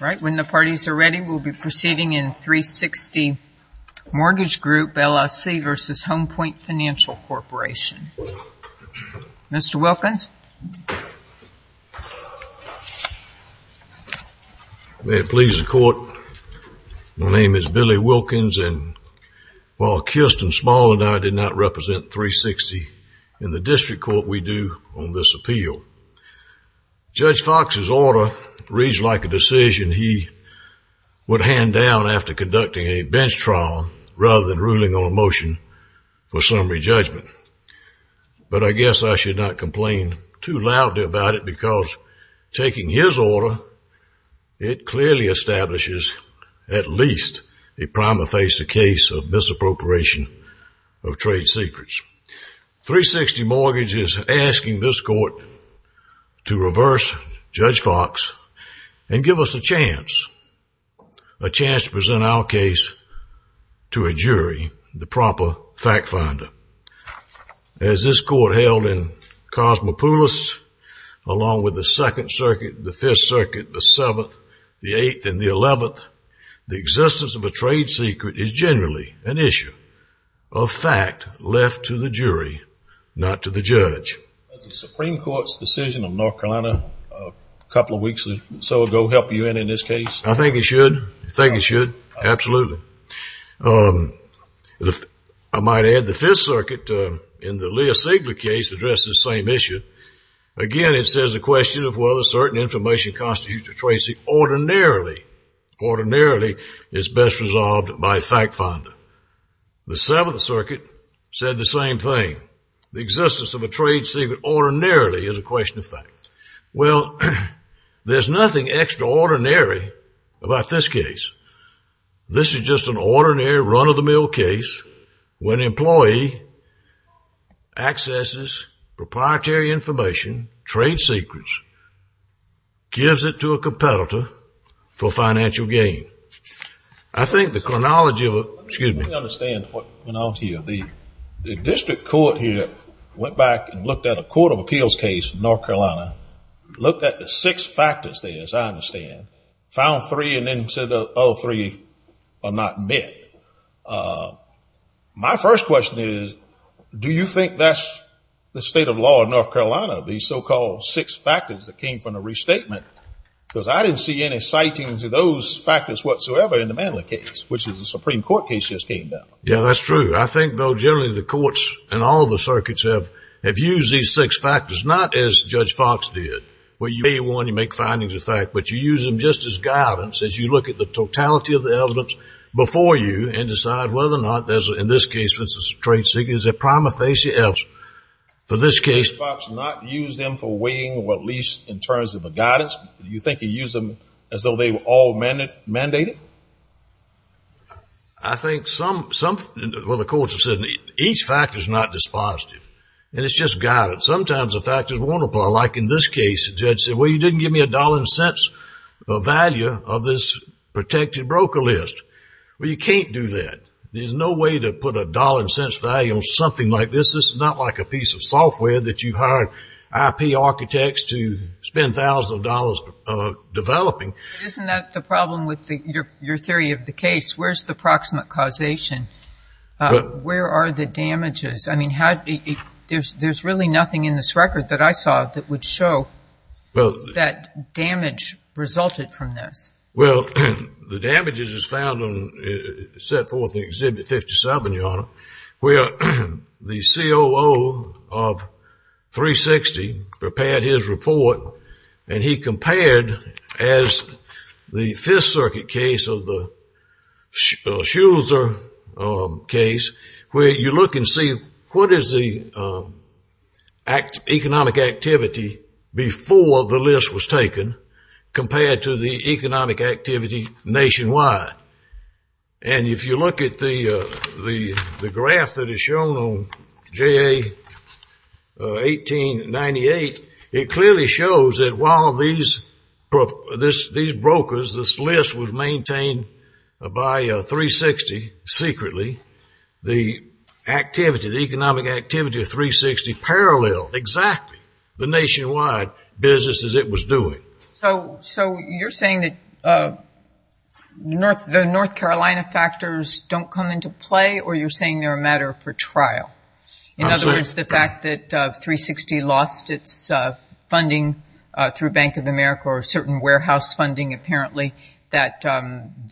Right when the parties are ready, we'll be proceeding in 360 Mortgage Group, LLC v. Home Point Financial Corporation. Mr. Wilkins. May it please the court, my name is Billy Wilkins and while Kirsten Small and I did not represent 360 in the district court, we do on this appeal. Judge Fox's order reads like a decision he would hand down after conducting a bench trial rather than ruling on a motion for summary judgment. But I guess I should not complain too loudly about it because taking his order, it clearly establishes at least a prima facie case of misappropriation of trade secrets. 360 Mortgage is asking this court to reverse Judge Fox and give us a chance, a chance to present our case to a jury, the proper fact finder. As this court held in Cosmopolis along with the Second Circuit, the Fifth Circuit, the Seventh, the Eighth, and the Eleventh, the existence of a trade secret is generally an issue of fact left to the jury, not to the judge. Does the Supreme Court's decision on North Carolina a couple of weeks or so ago help you in this case? I think it should, I think it should, absolutely. I might add the Fifth Circuit in the Leah Sigler case addressed this same issue. Again, it says a question of whether certain information constitutes a trade secret ordinarily, ordinarily is best resolved by a fact finder. The Seventh Circuit said the same thing. The existence of a trade secret ordinarily is a question of fact. Well, there's nothing extraordinary about this case. This is just an ordinary run-of-the-mill case when an employee accesses proprietary information, trade secrets, gives it to a competitor for financial gain. I think the chronology of it, excuse me. Let me understand what went on here. The district court here went back and looked at a court of appeals case in North Carolina, looked at the six factors there, as I understand, found three and then said all three are not met. My first question is, do you think that's the state of law in North Carolina, these so-called six factors that came from the restatement? Because I didn't see any sightings of those factors whatsoever in the Manley case, which is a Supreme Court case that just came down. Yeah, that's true. I think, though, generally the courts and all the circuits have used these six factors, not as Judge Fox did, where you may want to make findings of fact, but you use them just as guidance as you look at the totality of the evidence before you and decide whether or not there's, in this case, a trade secret. Judge Fox did not use them for weighing or at least in terms of a guidance. Do you think he used them as though they were all mandated? I think some, well, the courts have said each factor is not dispositive, and it's just guidance. Sometimes the factors won't apply. Like in this case, the judge said, well, you didn't give me a dollar and cents value of this protected broker list. Well, you can't do that. There's no way to put a dollar and cents value on something like this. This is not like a piece of software that you hire IP architects to spend thousands of dollars developing. Isn't that the problem with your theory of the case? Where's the proximate causation? Where are the damages? I mean, there's really nothing in this record that I saw that would show that damage resulted from this. Well, the damages is found and set forth in Exhibit 57, Your Honor, where the COO of 360 prepared his report, and he compared as the Fifth Circuit case of the Schultzer case where you look and see what is the economic activity before the list was taken compared to the economic activity nationwide. And if you look at the graph that is shown on JA-1898, it clearly shows that while these brokers, this list was maintained by 360 secretly, the economic activity of 360 paralleled exactly. The nationwide business as it was doing. So you're saying that the North Carolina factors don't come into play, or you're saying they're a matter for trial? In other words, the fact that 360 lost its funding through Bank of America or certain warehouse funding apparently that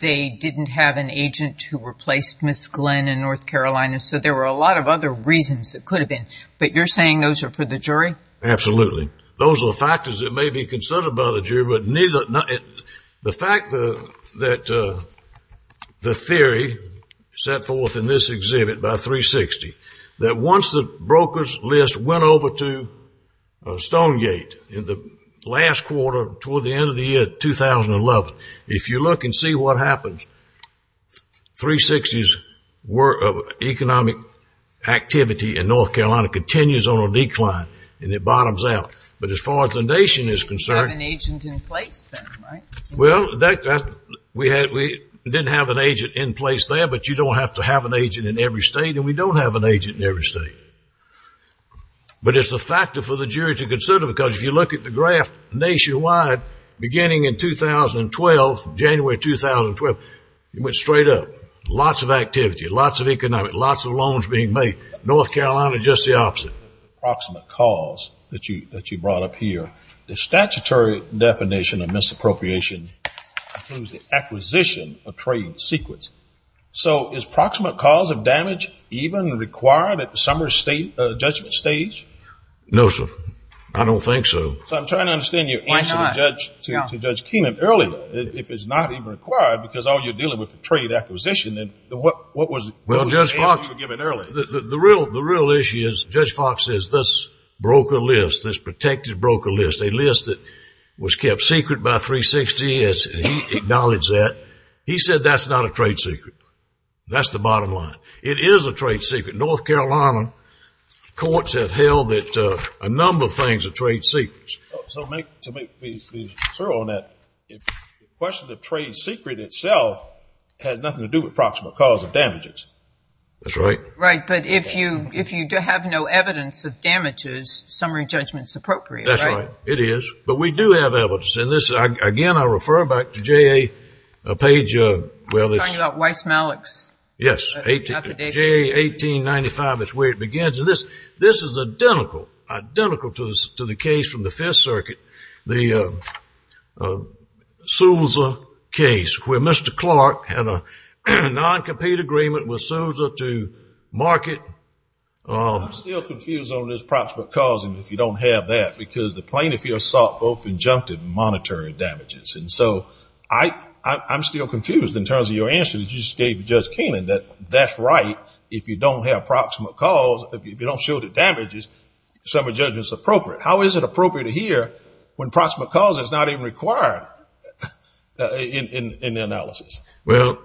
they didn't have an agent who replaced Ms. Glenn in North Carolina. So there were a lot of other reasons that could have been. But you're saying those are for the jury? Absolutely. Those are the factors that may be considered by the jury. But the fact that the theory set forth in this exhibit by 360 that once the brokers list went over to Stonegate in the last quarter toward the end of the year, 2011, if you look and see what happens, 360's work of economic activity in North Carolina continues on a decline, and it bottoms out. But as far as the nation is concerned. You didn't have an agent in place then, right? Well, we didn't have an agent in place there, but you don't have to have an agent in every state, and we don't have an agent in every state. But it's a factor for the jury to consider because if you look at the graph nationwide beginning in 2012, January 2012, it went straight up. Lots of activity, lots of economic, lots of loans being made. North Carolina, just the opposite. Approximate cause that you brought up here. The statutory definition of misappropriation includes the acquisition of trade secrets. So is proximate cause of damage even required at the summary judgment stage? No, sir. I don't think so. So I'm trying to understand your answer to Judge Keenan. If it's not even required because all you're dealing with is trade acquisition, then what was the answer you were given earlier? The real issue is Judge Fox says this broker list, this protected broker list, a list that was kept secret by 360, and he acknowledged that. He said that's not a trade secret. That's the bottom line. It is a trade secret. North Carolina courts have held that a number of things are trade secrets. So to make me clear on that, the question of trade secret itself had nothing to do with approximate cause of damages. That's right. Right. But if you have no evidence of damages, summary judgment is appropriate, right? That's right. It is. But we do have evidence. And, again, I refer back to J.A. Page. You're talking about Weiss-Malik's affidavit? Yes. J.A. 1895 is where it begins. And this is identical, identical to the case from the Fifth Circuit, the Souza case, where Mr. Clark had a non-compete agreement with Souza to market. I'm still confused on this approximate cause, and if you don't have that, because the plaintiff here sought both injunctive and monetary damages. And so I'm still confused in terms of your answer that you just gave to Judge Keenan, that that's right if you don't have approximate cause. If you don't show the damages, summary judgment is appropriate. How is it appropriate here when approximate cause is not even required in the analysis? Well,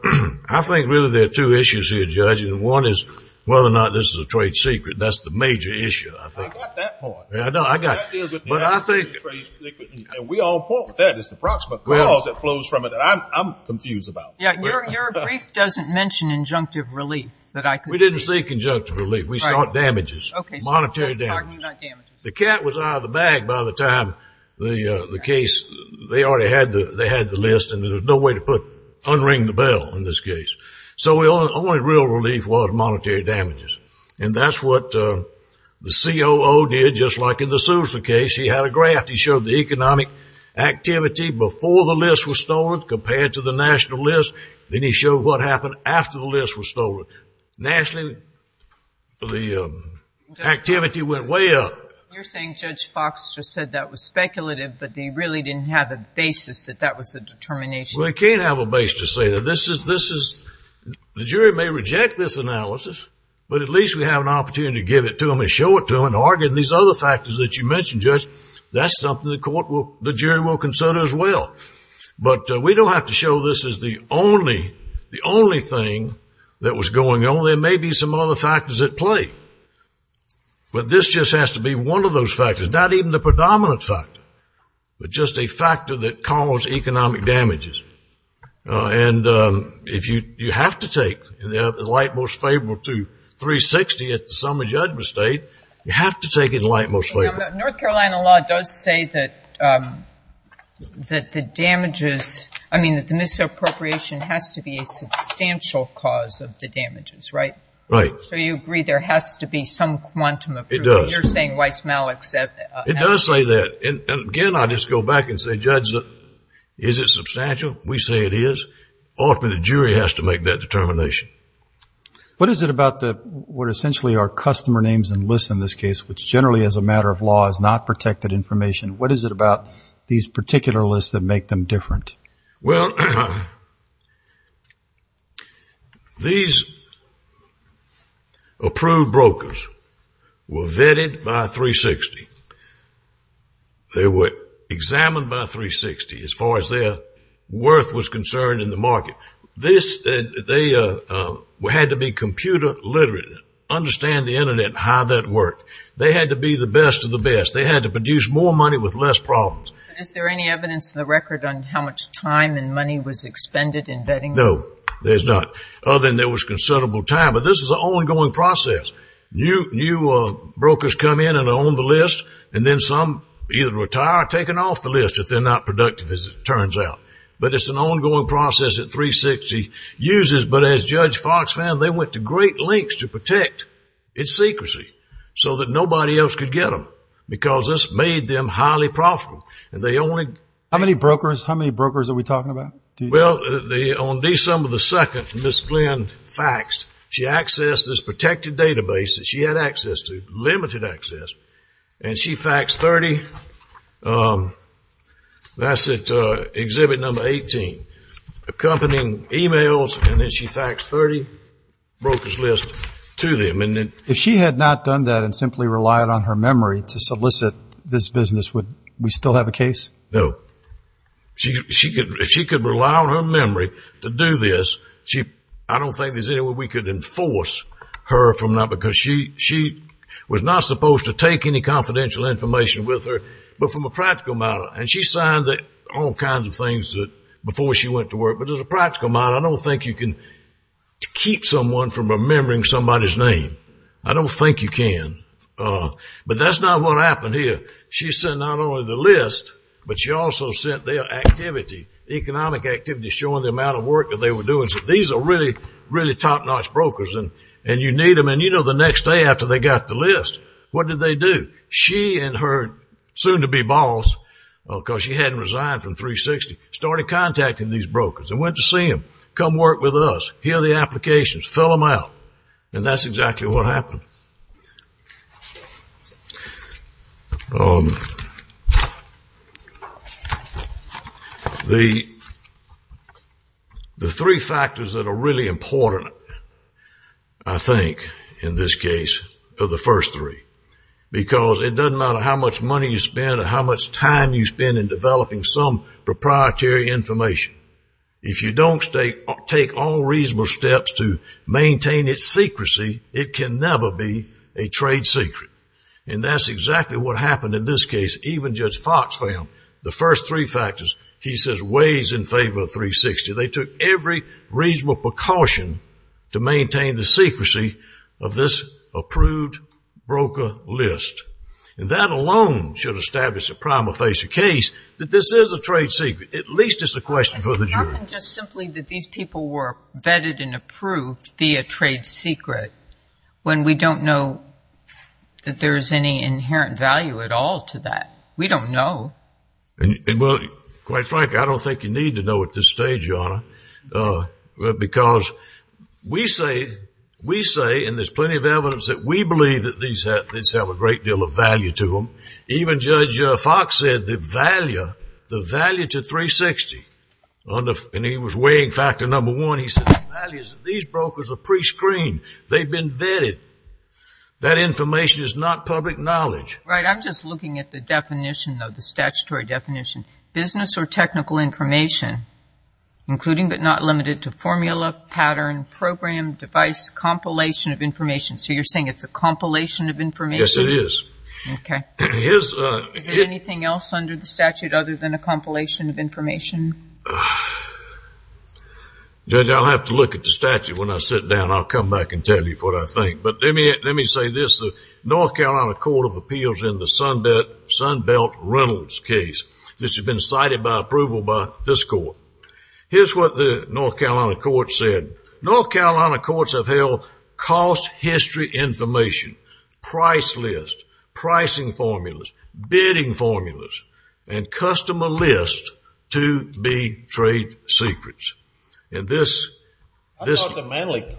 I think really there are two issues here, Judge, and one is whether or not this is a trade secret. That's the major issue, I think. I got that part. I know. I got it. But I think we all point to that. It's the approximate cause that flows from it that I'm confused about. Yeah, your brief doesn't mention injunctive relief that I could see. We didn't see conjunctive relief. We sought damages, monetary damages. Okay, so just pardon me, not damages. The cat was out of the bag by the time the case, they already had the list, and there was no way to unring the bell in this case. So the only real relief was monetary damages, and that's what the COO did just like in the Souza case. He had a graph. He showed the economic activity before the list was stolen compared to the national list. Then he showed what happened after the list was stolen. Nationally, the activity went way up. You're saying Judge Fox just said that was speculative, but they really didn't have a basis that that was the determination. Well, they can't have a basis to say that. This is the jury may reject this analysis, but at least we have an opportunity to give it to them and show it to them and argue these other factors that you mentioned, Judge. That's something the jury will consider as well. But we don't have to show this is the only thing that was going on. There may be some other factors at play. But this just has to be one of those factors, not even the predominant factor, but just a factor that caused economic damages. And if you have to take the light most favorable to 360 at the sum of judgment state, you have to take it light most favorable. North Carolina law does say that the damages, I mean, that the misappropriation has to be a substantial cause of the damages, right? Right. So you agree there has to be some quantum of proof. It does. You're saying Weiss-Malik said that. It does say that. And, again, I'll just go back and say, Judge, is it substantial? We say it is. Ultimately, the jury has to make that determination. What is it about what essentially are customer names and lists in this case, which generally as a matter of law is not protected information, what is it about these particular lists that make them different? Well, these approved brokers were vetted by 360. They were examined by 360 as far as their worth was concerned in the market. They had to be computer literate, understand the Internet and how that worked. They had to be the best of the best. They had to produce more money with less problems. Is there any evidence in the record on how much time and money was expended in vetting? No, there's not. Other than there was considerable time. But this is an ongoing process. New brokers come in and are on the list, and then some either retire or are taken off the list if they're not productive, as it turns out. But it's an ongoing process that 360 uses. But as Judge Fox found, they went to great lengths to protect its secrecy so that nobody else could get them because this made them highly profitable. How many brokers are we talking about? Well, on December 2nd, Ms. Glenn faxed. She accessed this protected database that she had access to, limited access, and she faxed 30, that's at Exhibit Number 18, accompanying emails, and then she faxed 30 brokers' lists to them. If she had not done that and simply relied on her memory to solicit this business, would we still have a case? No. If she could rely on her memory to do this, I don't think there's any way we could enforce her because she was not supposed to take any confidential information with her. But from a practical matter, and she signed all kinds of things before she went to work, but as a practical matter, I don't think you can keep someone from remembering somebody's name. I don't think you can. But that's not what happened here. She sent not only the list, but she also sent their activity, economic activity, showing the amount of work that they were doing. These are really, really top-notch brokers, and you need them, and you know the next day after they got the list, what did they do? She and her soon-to-be boss, because she hadn't resigned from 360, started contacting these brokers and went to see them, come work with us, hear the applications, fill them out, and that's exactly what happened. The three factors that are really important, I think, in this case, are the first three, because it doesn't matter how much money you spend or how much time you spend in developing some proprietary information. If you don't take all reasonable steps to maintain its secrecy, it can never be a trade secret, and that's exactly what happened in this case. Even Judge Fox found the first three factors, he says, weighs in favor of 360. They took every reasonable precaution to maintain the secrecy of this approved broker list, and that alone should establish a prima facie case that this is a trade secret. At least it's a question for the jury. How can just simply that these people were vetted and approved be a trade secret when we don't know that there's any inherent value at all to that? We don't know. Quite frankly, I don't think you need to know at this stage, Your Honor, because we say, and there's plenty of evidence that we believe that these have a great deal of value to them. Even Judge Fox said the value to 360, and he was weighing factor number one, he said the value is that these brokers are pre-screened. They've been vetted. That information is not public knowledge. Right. I'm just looking at the definition, though, the statutory definition. Business or technical information, including but not limited to formula, pattern, program, device, compilation of information. So you're saying it's a compilation of information? Yes, it is. Okay. Is there anything else under the statute other than a compilation of information? Judge, I'll have to look at the statute when I sit down. I'll come back and tell you what I think. But let me say this. The North Carolina Court of Appeals in the Sunbelt Reynolds case, this has been cited by approval by this court. Here's what the North Carolina court said. North Carolina courts have held cost history information, price list, pricing formulas, bidding formulas, and customer lists to be trade secrets. I thought the Manley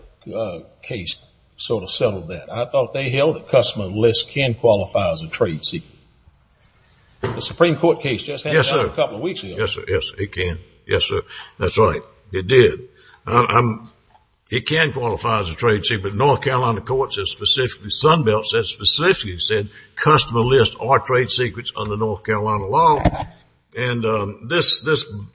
case sort of settled that. I thought they held that customer lists can qualify as a trade secret. The Supreme Court case just happened a couple of weeks ago. Yes, sir. Yes, it can. Yes, sir. That's right. It did. It can qualify as a trade secret. The North Carolina court said specifically, Sunbelt said specifically, said customer lists are trade secrets under North Carolina law. And this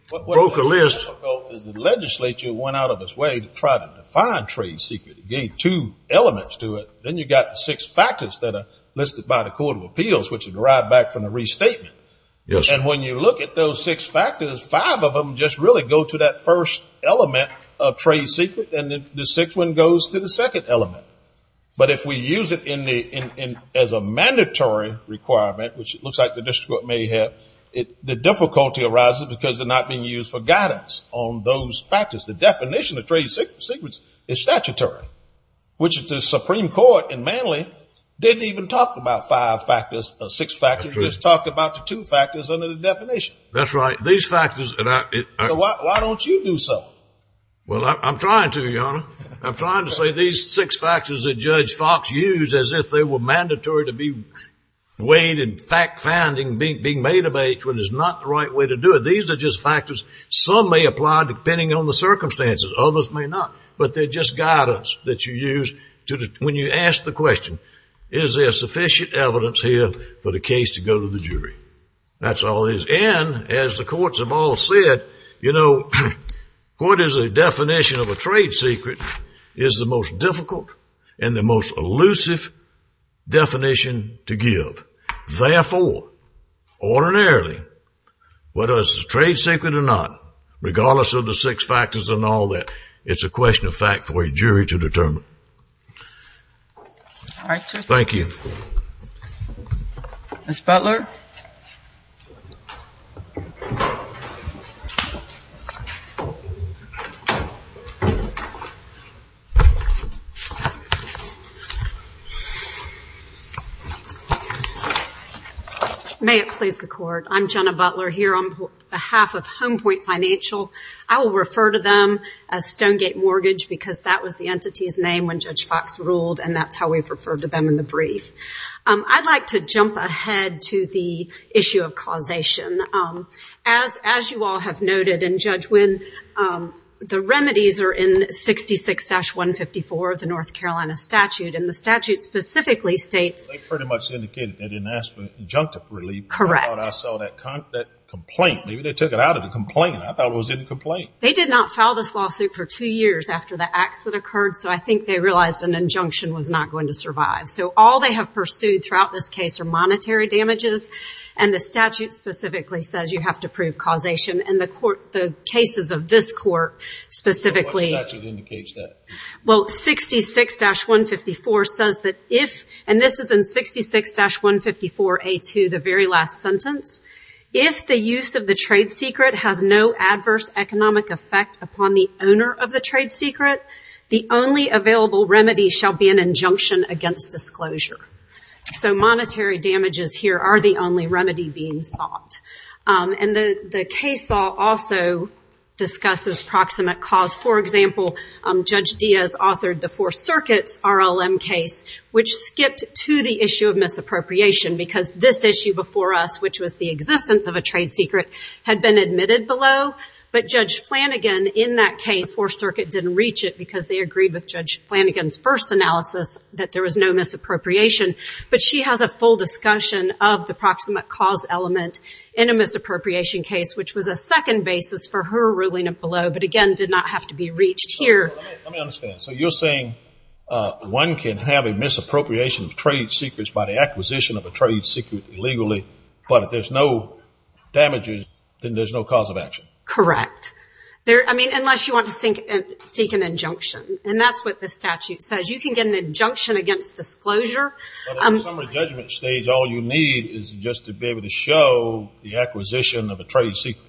broke a list. What was difficult is the legislature went out of its way to try to define trade secrets. It gave two elements to it. Then you've got the six factors that are listed by the Court of Appeals, which are derived back from the restatement. Yes, sir. When you look at those six factors, five of them just really go to that first element of trade secret, and the sixth one goes to the second element. But if we use it as a mandatory requirement, which it looks like the district court may have, the difficulty arises because they're not being used for guidance on those factors. The definition of trade secrets is statutory, which the Supreme Court in Manley didn't even talk about five factors or six factors, just talked about the two factors under the definition. That's right. These factors. So why don't you do so? Well, I'm trying to, Your Honor. I'm trying to say these six factors that Judge Fox used as if they were mandatory to be weighed and fact-finding being made of age when it's not the right way to do it. These are just factors. Some may apply depending on the circumstances. Others may not. But they're just guidance that you use when you ask the question, is there sufficient evidence here for the case to go to the jury? That's all it is. And as the courts have all said, you know, what is the definition of a trade secret is the most difficult and the most elusive definition to give. Therefore, ordinarily, whether it's a trade secret or not, regardless of the six factors and all that, it's a question of fact for a jury to determine. All right, sir. Thank you. Ms. Butler? May it please the Court. I'm Jenna Butler here on behalf of Home Point Financial. I will refer to them as Stonegate Mortgage because that was the entity's name when Judge Fox ruled, and that's how we've referred to them in the brief. I'd like to jump ahead to the issue of causation. As you all have noted, and, Judge, when the remedies are in 66-154 of the North Carolina statute, and the statute specifically states they pretty much indicated they didn't ask for injunctive relief. Correct. I thought I saw that complaint. Maybe they took it out of the complaint. I thought it was in the complaint. They did not file this lawsuit for two years after the acts that occurred, so I think they realized an injunction was not going to survive. So all they have pursued throughout this case are monetary damages, and the statute specifically says you have to prove causation, and the cases of this court specifically. What statute indicates that? Well, 66-154 says that if, and this is in 66-154A2, the very last sentence, if the use of the trade secret has no adverse economic effect upon the owner of the trade secret, the only available remedy shall be an injunction against disclosure. So monetary damages here are the only remedy being sought. And the case law also discusses proximate cause. For example, Judge Diaz authored the Four Circuits RLM case, which skipped to the issue of misappropriation because this issue before us, which was the existence of a trade secret, had been admitted below. But Judge Flanagan in that case, Fourth Circuit didn't reach it because they agreed with Judge Flanagan's first analysis that there was no misappropriation. But she has a full discussion of the proximate cause element in a misappropriation case, which was a second basis for her ruling below, but, again, did not have to be reached here. Let me understand. So you're saying one can have a misappropriation of trade secrets by the acquisition of a trade secret illegally, but if there's no damages, then there's no cause of action? Correct. I mean, unless you want to seek an injunction. And that's what the statute says. You can get an injunction against disclosure. But at the summary judgment stage, all you need is just to be able to show the acquisition of a trade secret.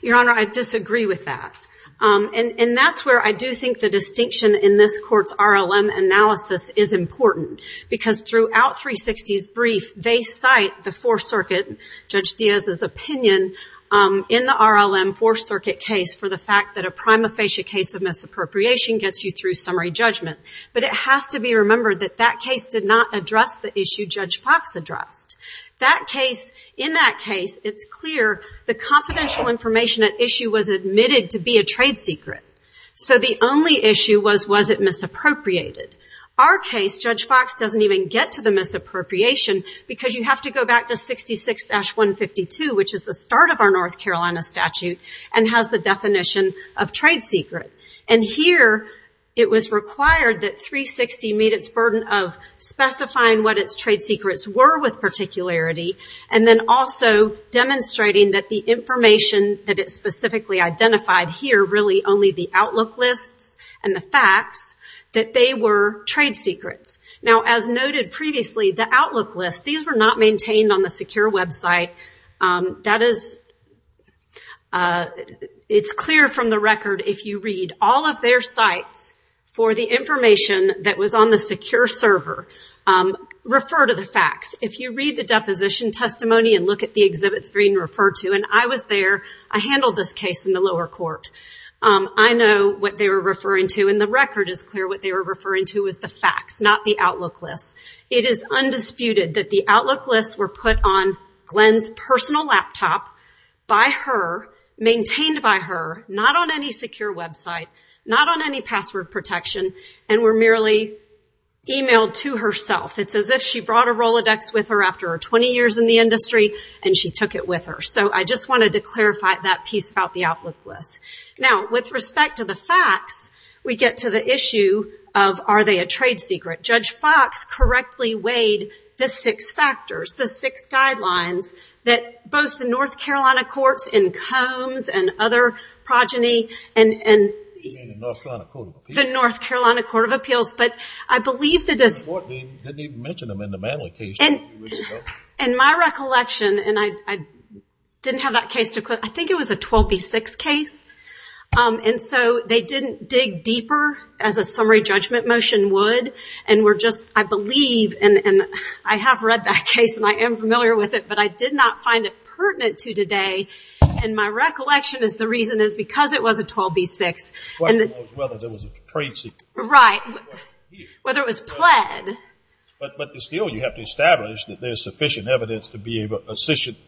Your Honor, I disagree with that. And that's where I do think the distinction in this Court's RLM analysis is important, because throughout 360's brief, they cite the Fourth Circuit, Judge Diaz's opinion, in the RLM Fourth Circuit case for the fact that a prima facie case of misappropriation gets you through summary judgment. But it has to be remembered that that case did not address the issue Judge Fox addressed. In that case, it's clear the confidential information at issue was admitted to be a trade secret. So the only issue was, was it misappropriated? Our case, Judge Fox doesn't even get to the misappropriation, because you have to go back to 66-152, which is the start of our North Carolina statute, and has the definition of trade secret. And here, it was required that 360 meet its burden of specifying what its trade secrets were with particularity, and then also demonstrating that the information that it specifically identified here, really only the outlook lists and the facts, that they were trade secrets. Now, as noted previously, the outlook list, these were not maintained on the secure website. That is, it's clear from the record, if you read all of their sites, for the information that was on the secure server, refer to the facts. If you read the deposition testimony and look at the exhibit screen, refer to, and I was there, I handled this case in the lower court, I know what they were referring to, and the record is clear what they were referring to was the facts, not the outlook list. It is undisputed that the outlook lists were put on Glenn's personal laptop by her, maintained by her, not on any secure website, not on any password protection, and were merely emailed to herself. It's as if she brought a Rolodex with her after 20 years in the industry, and she took it with her. So I just wanted to clarify that piece about the outlook list. Now, with respect to the facts, we get to the issue of, are they a trade secret? Judge Fox correctly weighed the six factors, the six guidelines, that both the North Carolina courts in Combs and other progeny and... The North Carolina Court of Appeals. The North Carolina Court of Appeals, but I believe the... The court didn't even mention them in the Manley case. In my recollection, and I didn't have that case to... I think it was a 12B6 case, and so they didn't dig deeper, as a summary judgment motion would, and were just, I believe, and I have read that case, and I am familiar with it, but I did not find it pertinent to today, and my recollection is the reason is because it was a 12B6. The question was whether there was a trade secret. Right. The question was whether it was pled. But still, you have to establish that there's sufficient evidence to be able to...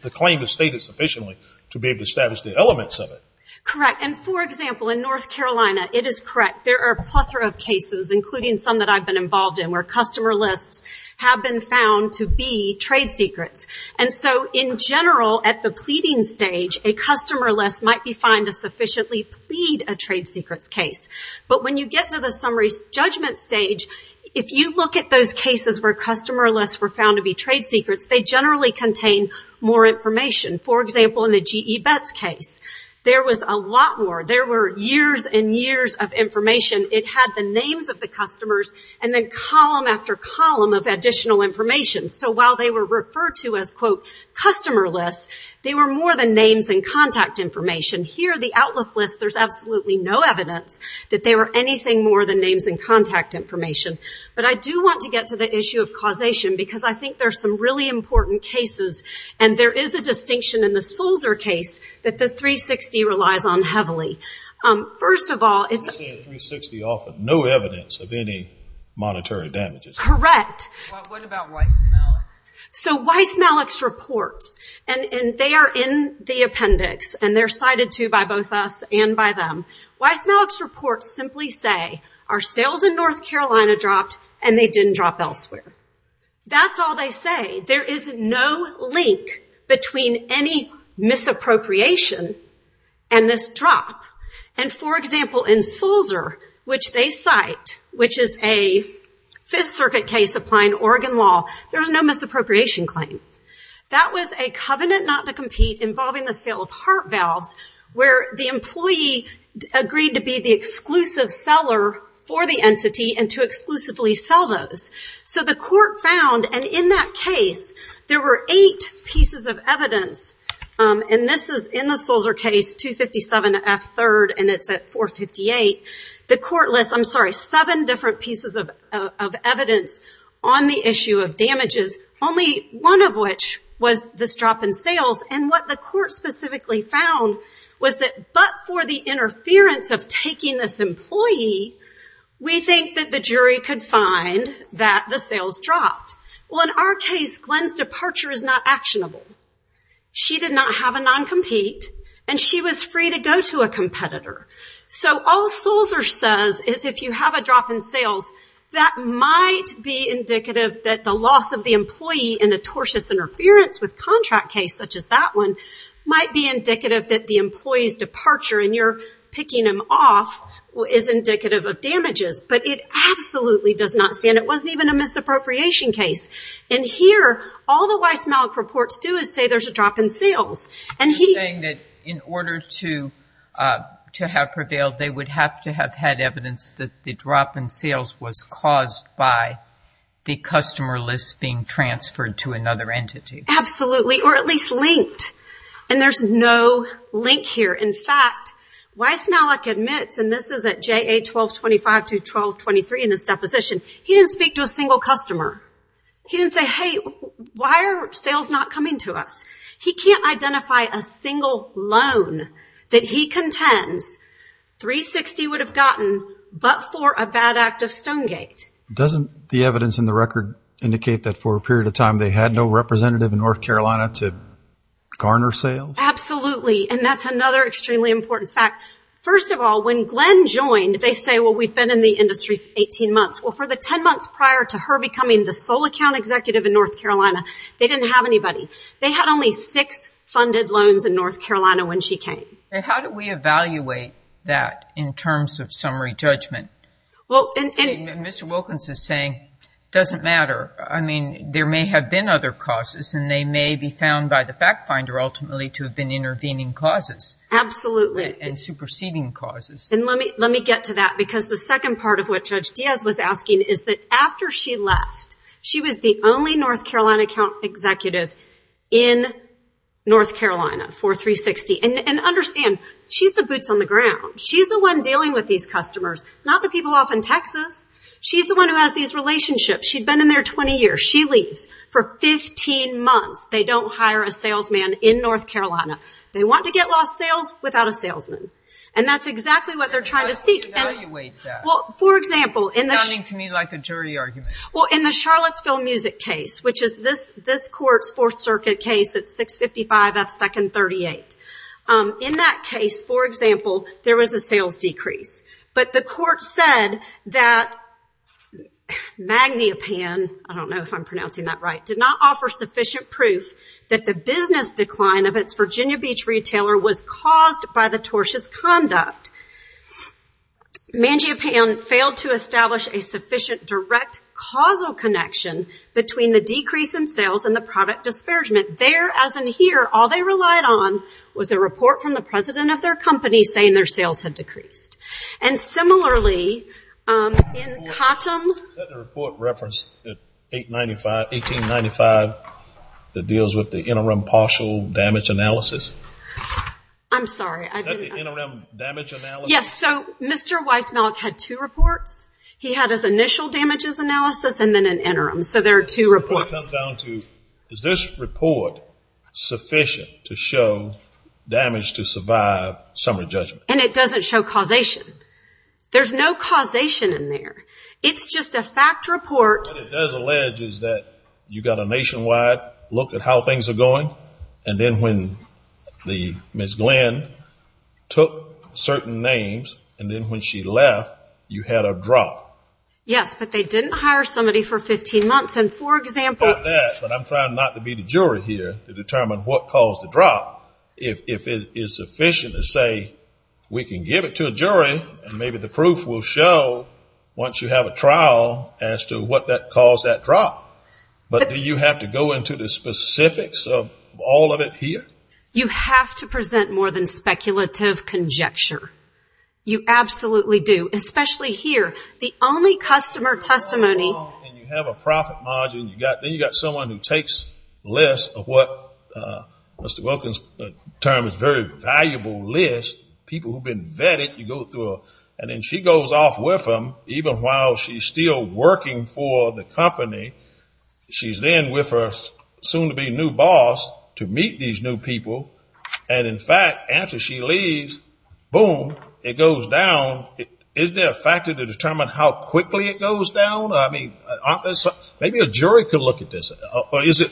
The claim is stated sufficiently to be able to establish the elements of it. Correct, and, for example, in North Carolina, it is correct. There are a plethora of cases, including some that I've been involved in, where customer lists have been found to be trade secrets, and so, in general, at the pleading stage, a customer list might be fine to sufficiently plead a trade secrets case, but when you get to the summary judgment stage, if you look at those cases where customer lists were found to be trade secrets, they generally contain more information. For example, in the GE Bets case, there was a lot more. There were years and years of information. It had the names of the customers, and then column after column of additional information, so while they were referred to as, quote, customer lists, they were more than names and contact information. Here, the outlook list, there's absolutely no evidence that they were anything more than names and contact information, but I do want to get to the issue of causation, because I think there are some really important cases, and there is a distinction in the Sulzer case that the 360 relies on heavily. First of all, it's... I say 360 often. No evidence of any monetary damages. Correct. What about Weiss-Malik? So, Weiss-Malik's reports, and they are in the appendix, and they're cited, too, by both us and by them. Weiss-Malik's reports simply say, our sales in North Carolina dropped, and they didn't drop elsewhere. That's all they say. There is no link between any misappropriation and this drop. And, for example, in Sulzer, which they cite, which is a Fifth Circuit case applying Oregon law, there is no misappropriation claim. That was a covenant not to compete involving the sale of heart valves, where the employee agreed to be the exclusive seller for the entity and to exclusively sell those. So the court found, and in that case, there were eight pieces of evidence, and this is in the Sulzer case, 257F3, and it's at 458. The court lists, I'm sorry, seven different pieces of evidence on the issue of damages. Only one of which was this drop in sales, and what the court specifically found was that, but for the interference of taking this employee, we think that the jury could find that the sales dropped. Well, in our case, Glenn's departure is not actionable. She did not have a non-compete, and she was free to go to a competitor. So all Sulzer says is, if you have a drop in sales, that might be indicative that the loss of the employee in a tortious interference with contract case, such as that one, might be indicative that the employee's departure, and you're picking them off, is indicative of damages. But it absolutely does not stand. It wasn't even a misappropriation case. And here, all the Weiss-Malik reports do is say there's a drop in sales. You're saying that in order to have prevailed, they would have to have had evidence that the drop in sales was caused by the customer list being transferred to another entity. Absolutely, or at least linked. And there's no link here. In fact, Weiss-Malik admits, and this is at JA 1225 to 1223 in his deposition, he didn't speak to a single customer. He didn't say, hey, why are sales not coming to us? He can't identify a single loan that he contends 360 would have gotten but for a bad act of Stonegate. Doesn't the evidence in the record indicate that for a period of time they had no representative in North Carolina to garner sales? Absolutely, and that's another extremely important fact. First of all, when Glenn joined, they say, well, we've been in the industry for 18 months. Well, for the 10 months prior to her becoming the sole account executive in North Carolina, they didn't have anybody. They had only six funded loans in North Carolina when she came. How do we evaluate that in terms of summary judgment? Mr. Wilkins is saying it doesn't matter. I mean, there may have been other causes, and they may be found by the fact finder ultimately to have been intervening causes. Absolutely. And superseding causes. And let me get to that because the second part of what Judge Diaz was asking is that after she left, she was the only North Carolina account executive in North Carolina for 360. And understand, she's the boots on the ground. She's the one dealing with these customers, not the people off in Texas. She's the one who has these relationships. She'd been in there 20 years. She leaves. For 15 months, they don't hire a salesman in North Carolina. They want to get lost sales without a salesman, and that's exactly what they're trying to seek. How do we evaluate that? It's sounding to me like a jury argument. Well, in the Charlottesville Music case, which is this court's Fourth Circuit case, it's 655 F. Second 38. In that case, for example, there was a sales decrease. But the court said that Magniopan, I don't know if I'm pronouncing that right, did not offer sufficient proof that the business decline of its Virginia Beach retailer was caused by the tortious conduct. Magniopan failed to establish a sufficient direct causal connection between the decrease in sales and the product disparagement. There, as in here, all they relied on was a report from the president of their company saying their sales had decreased. And similarly, in Cottom. Is that the report referenced in 1895 that deals with the interim partial damage analysis? I'm sorry. Is that the interim damage analysis? Yes. So Mr. Weissmalk had two reports. He had his initial damages analysis and then an interim. So there are two reports. The report comes down to, is this report sufficient to show damage to survive summary judgment? And it doesn't show causation. There's no causation in there. It's just a fact report. What it does allege is that you've got a nationwide look at how things are going, and then when Ms. Glenn took certain names, and then when she left, you had a drop. Yes, but they didn't hire somebody for 15 months. And for example ---- Not that, but I'm trying not to be the jury here to determine what caused the drop. If it is sufficient to say we can give it to a jury, and maybe the proof will show once you have a trial as to what caused that drop. But do you have to go into the specifics of all of it here? You have to present more than speculative conjecture. You absolutely do, especially here. The only customer testimony ---- And you have a profit margin. Then you've got someone who takes a list of what Mr. Wilkins termed a very valuable list, people who have been vetted. And then she goes off with them, even while she's still working for the company. She's then with her soon-to-be new boss to meet these new people. And, in fact, after she leaves, boom, it goes down. Is there a factor to determine how quickly it goes down? I mean, maybe a jury could look at this.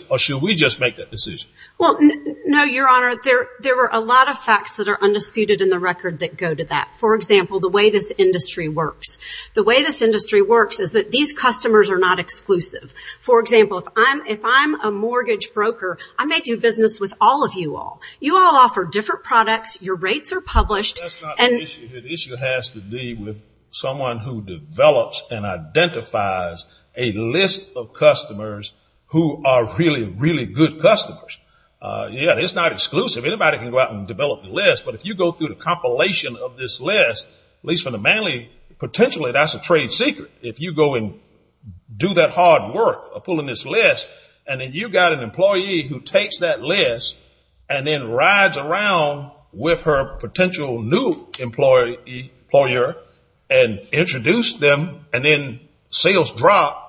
Or should we just make that decision? Well, no, Your Honor. There are a lot of facts that are undisputed in the record that go to that. For example, the way this industry works. The way this industry works is that these customers are not exclusive. For example, if I'm a mortgage broker, I may do business with all of you all. You all offer different products. Your rates are published. That's not the issue. The issue has to do with someone who develops and identifies a list of customers who are really, really good customers. Yeah, it's not exclusive. Anybody can go out and develop a list. But if you go through the compilation of this list, at least for the manly, potentially that's a trade secret. If you go and do that hard work of pulling this list, and then you've got an employee who takes that list and then rides around with her potential new employer and introduced them, and then sales drop,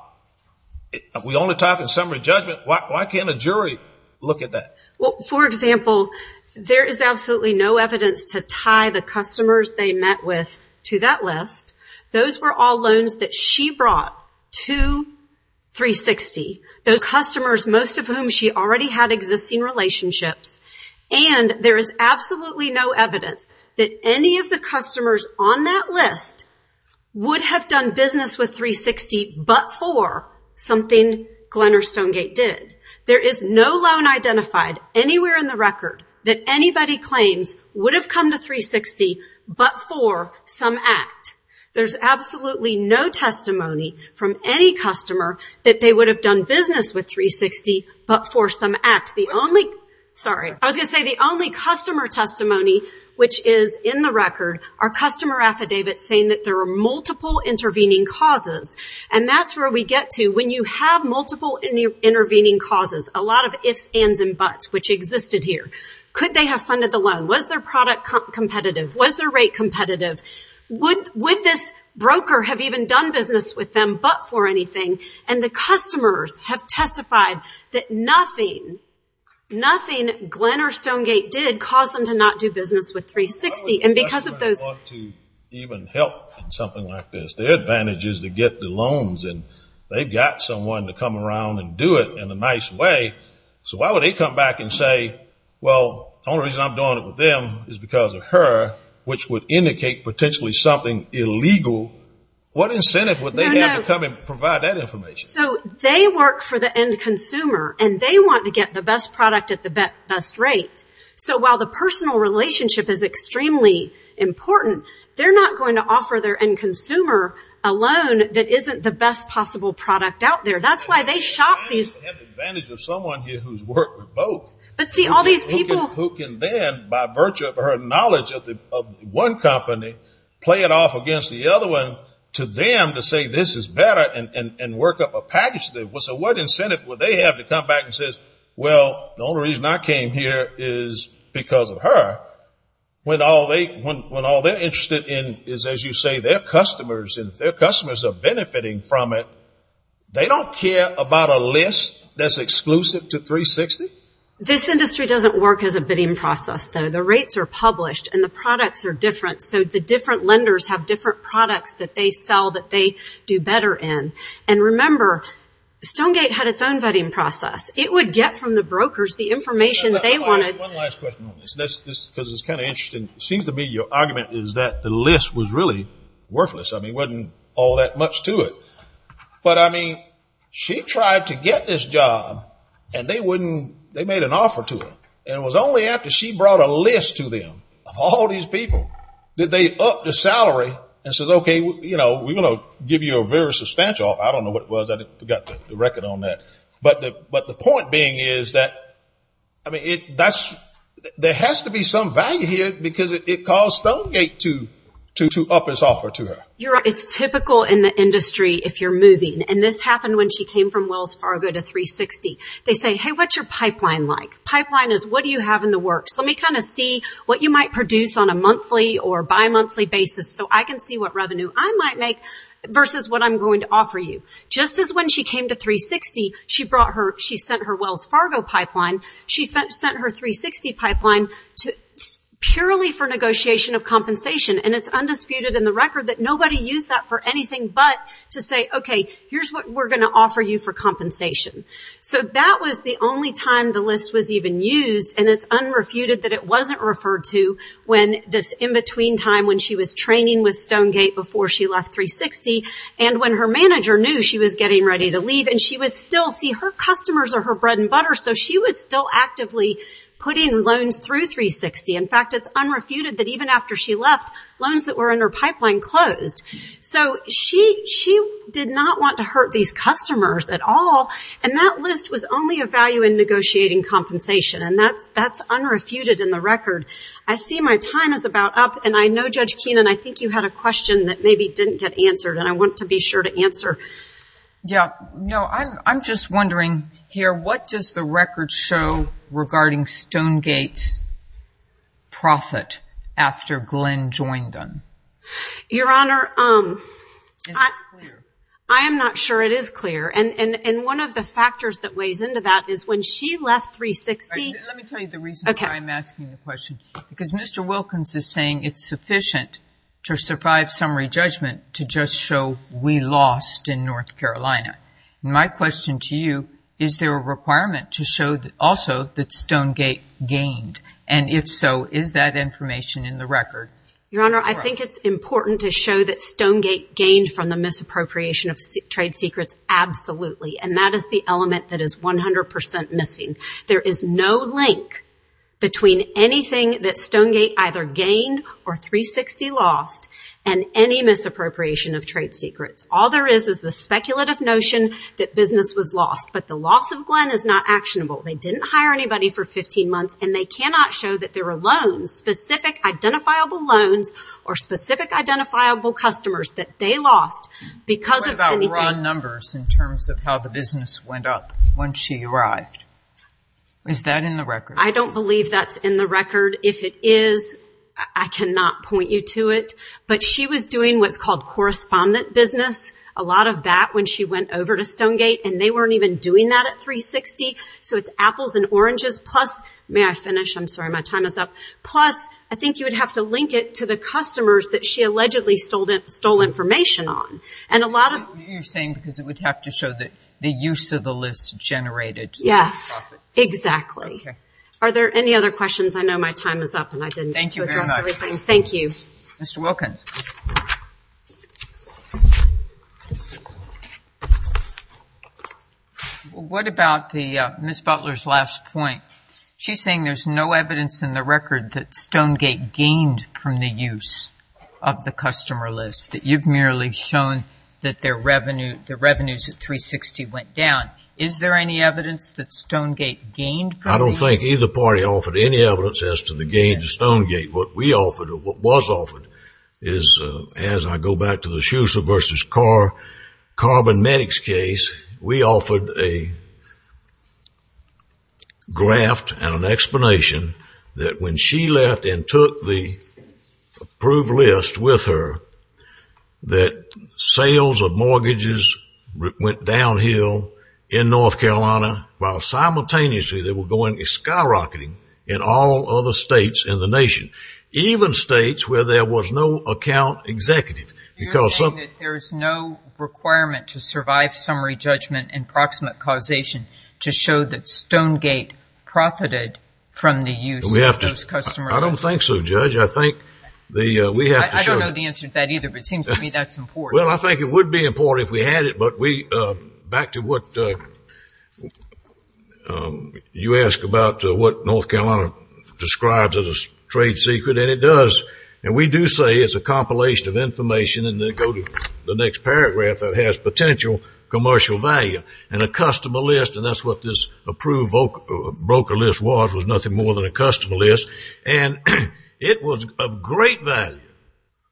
we only talk in summary judgment. Why can't a jury look at that? Well, for example, there is absolutely no evidence to tie the customers they met with to that list. Those were all loans that she brought to 360. Those customers, most of whom she already had existing relationships. And there is absolutely no evidence that any of the customers on that list would have done business with 360 but for something Glenn or Stonegate did. There is no loan identified anywhere in the record that anybody claims would have come to 360 but for some act. There's absolutely no testimony from any customer that they would have done business with 360 but for some act. I was going to say the only customer testimony, which is in the record, are customer affidavits saying that there are multiple intervening causes. And that's where we get to when you have multiple intervening causes, a lot of ifs, ands, and buts, which existed here. Could they have funded the loan? Was their product competitive? Was their rate competitive? Would this broker have even done business with them but for anything? And the customers have testified that nothing, nothing, Glenn or Stonegate did cause them to not do business with 360. And because of those... That's why I want to even help in something like this. Their advantage is to get the loans and they've got someone to come around and do it in a nice way. So why would they come back and say, well, the only reason I'm doing it with them is because of her, which would indicate potentially something illegal. What incentive would they have to come and provide that information? So they work for the end consumer and they want to get the best product at the best rate. So while the personal relationship is extremely important, they're not going to offer their end consumer a loan that isn't the best possible product out there. That's why they shop these... They have the advantage of someone here who's worked with both. But see, all these people... Who can then, by virtue of her knowledge of one company, play it off against the other one to them to say this is better and work up a package. So what incentive would they have to come back and say, well, the only reason I came here is because of her? When all they're interested in is, as you say, their customers. And if their customers are benefiting from it, they don't care about a list that's exclusive to 360? This industry doesn't work as a bidding process, though. The rates are published and the products are different, so the different lenders have different products that they sell that they do better in. And remember, Stonegate had its own vetting process. It would get from the brokers the information they wanted. One last question on this, because it's kind of interesting. It seems to me your argument is that the list was really worthless. I mean, it wasn't all that much to it. But, I mean, she tried to get this job, and they made an offer to her. And it was only after she brought a list to them of all these people that they upped the salary and said, OK, we're going to give you a very substantial. I don't know what it was. I forgot the record on that. But the point being is that there has to be some value here because it caused Stonegate to up its offer to her. It's typical in the industry if you're moving. And this happened when she came from Wells Fargo to 360. They say, hey, what's your pipeline like? Pipeline is what do you have in the works? Let me kind of see what you might produce on a monthly or bimonthly basis so I can see what revenue I might make versus what I'm going to offer you. Just as when she came to 360, she sent her Wells Fargo pipeline, she sent her 360 pipeline purely for negotiation of compensation. And it's undisputed in the record that nobody used that for anything but to say, OK, here's what we're going to offer you for compensation. So that was the only time the list was even used, and it's unrefuted that it wasn't referred to when this in-between time when she was training with Stonegate before she left 360 and when her manager knew she was getting ready to leave. And she was still, see, her customers are her bread and butter, so she was still actively putting loans through 360. In fact, it's unrefuted that even after she left, loans that were in her pipeline closed. So she did not want to hurt these customers at all, and that list was only of value in negotiating compensation, and that's unrefuted in the record. I see my time is about up, and I know, Judge Keenan, I think you had a question that maybe didn't get answered, and I want to be sure to answer. Yeah, no, I'm just wondering here, what does the record show regarding Stonegate's profit after Glenn joined them? Your Honor, I am not sure it is clear, and one of the factors that weighs into that is when she left 360. Let me tell you the reason why I'm asking the question, because Mr. Wilkins is saying it's sufficient to survive summary judgment to just show we lost in North Carolina. My question to you, is there a requirement to show also that Stonegate gained? And if so, is that information in the record? Your Honor, I think it's important to show that Stonegate gained from the misappropriation of trade secrets. Absolutely, and that is the element that is 100 percent missing. There is no link between anything that Stonegate either gained or 360 lost and any misappropriation of trade secrets. All there is is the speculative notion that business was lost, but the loss of Glenn is not actionable. They didn't hire anybody for 15 months, and they cannot show that there are loans, specific identifiable loans, or specific identifiable customers that they lost because of anything. What about raw numbers in terms of how the business went up once she arrived? I don't believe that's in the record. If it is, I cannot point you to it. But she was doing what's called correspondent business. A lot of that when she went over to Stonegate, and they weren't even doing that at 360. So it's apples and oranges, plus, may I finish? I'm sorry, my time is up. Plus, I think you would have to link it to the customers that she allegedly stole information on. You're saying because it would have to show the use of the list generated profits. Yes, exactly. Are there any other questions? I know my time is up, and I didn't get to address everything. Thank you very much. Thank you. Mr. Wilkins. What about Ms. Butler's last point? She's saying there's no evidence in the record that Stonegate gained from the use of the customer list, that you've merely shown that the revenues at 360 went down. Is there any evidence that Stonegate gained from the use? I don't think either party offered any evidence as to the gain to Stonegate. What we offered or what was offered is, as I go back to the Schuessler v. Carbon Medics case, we offered a graph and an explanation that when she left and took the approved list with her, that sales of mortgages went downhill in North Carolina, while simultaneously they were going skyrocketing in all other states in the nation, even states where there was no account executive. You're saying that there is no requirement to survive summary judgment and proximate causation to show that Stonegate profited from the use of those customer lists? I don't think so, Judge. I don't know the answer to that either, but it seems to me that's important. Well, I think it would be important if we had it, but back to what you asked about what North Carolina describes as a trade secret, and it does. And we do say it's a compilation of information, and then go to the next paragraph that has potential commercial value. And a customer list, and that's what this approved broker list was, was nothing more than a customer list. And it was of great value,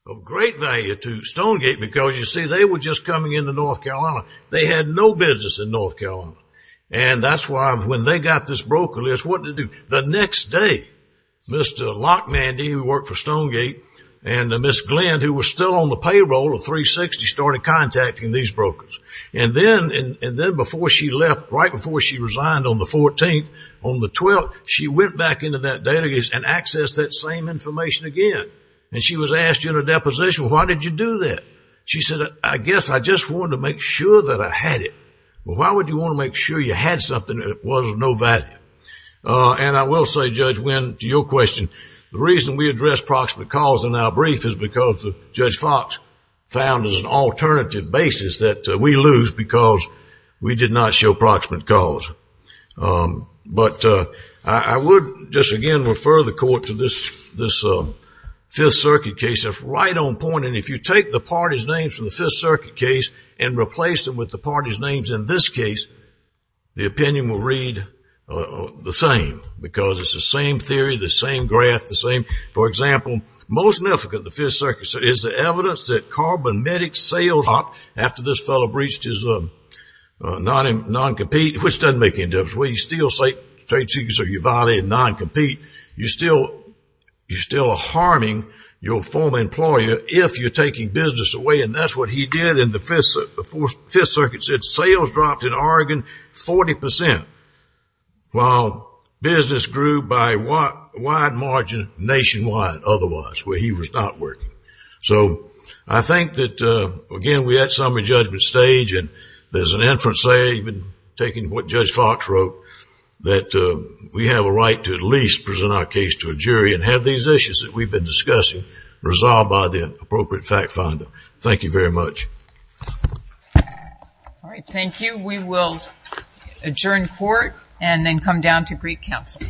of great value to Stonegate, because, you see, they were just coming into North Carolina. They had no business in North Carolina. And that's why when they got this broker list, what did they do? The next day, Mr. Lockmandy, who worked for Stonegate, and Ms. Glenn, who was still on the payroll of 360, started contacting these brokers. And then before she left, right before she resigned on the 14th, on the 12th, she went back into that database and accessed that same information again. And she was asked during a deposition, why did you do that? She said, I guess I just wanted to make sure that I had it. Well, why would you want to make sure you had something that was of no value? And I will say, Judge Winn, to your question, the reason we address proximate cause in our brief is because Judge Fox found as an alternative basis that we lose because we did not show proximate cause. But I would just again refer the court to this Fifth Circuit case. It's right on point. And if you take the parties' names from the Fifth Circuit case and replace them with the parties' names in this case, the opinion will read the same because it's the same theory, the same graph, the same. For example, most significant in the Fifth Circuit is the evidence that Carl Benmedick's sales dropped after this fellow breached his non-compete, which doesn't make any difference. Well, you still say you violated non-compete. You're still harming your former employer if you're taking business away. And that's what he did in the Fifth Circuit. The Fifth Circuit said sales dropped in Oregon 40 percent, while business grew by a wide margin nationwide otherwise, where he was not working. So I think that, again, we're at summary judgment stage. And there's an inference there, even taking what Judge Fox wrote, that we have a right to at least present our case to a jury and have these issues that we've been discussing resolved by the appropriate fact finder. Thank you very much. All right, thank you. We will adjourn court and then come down to brief counsel.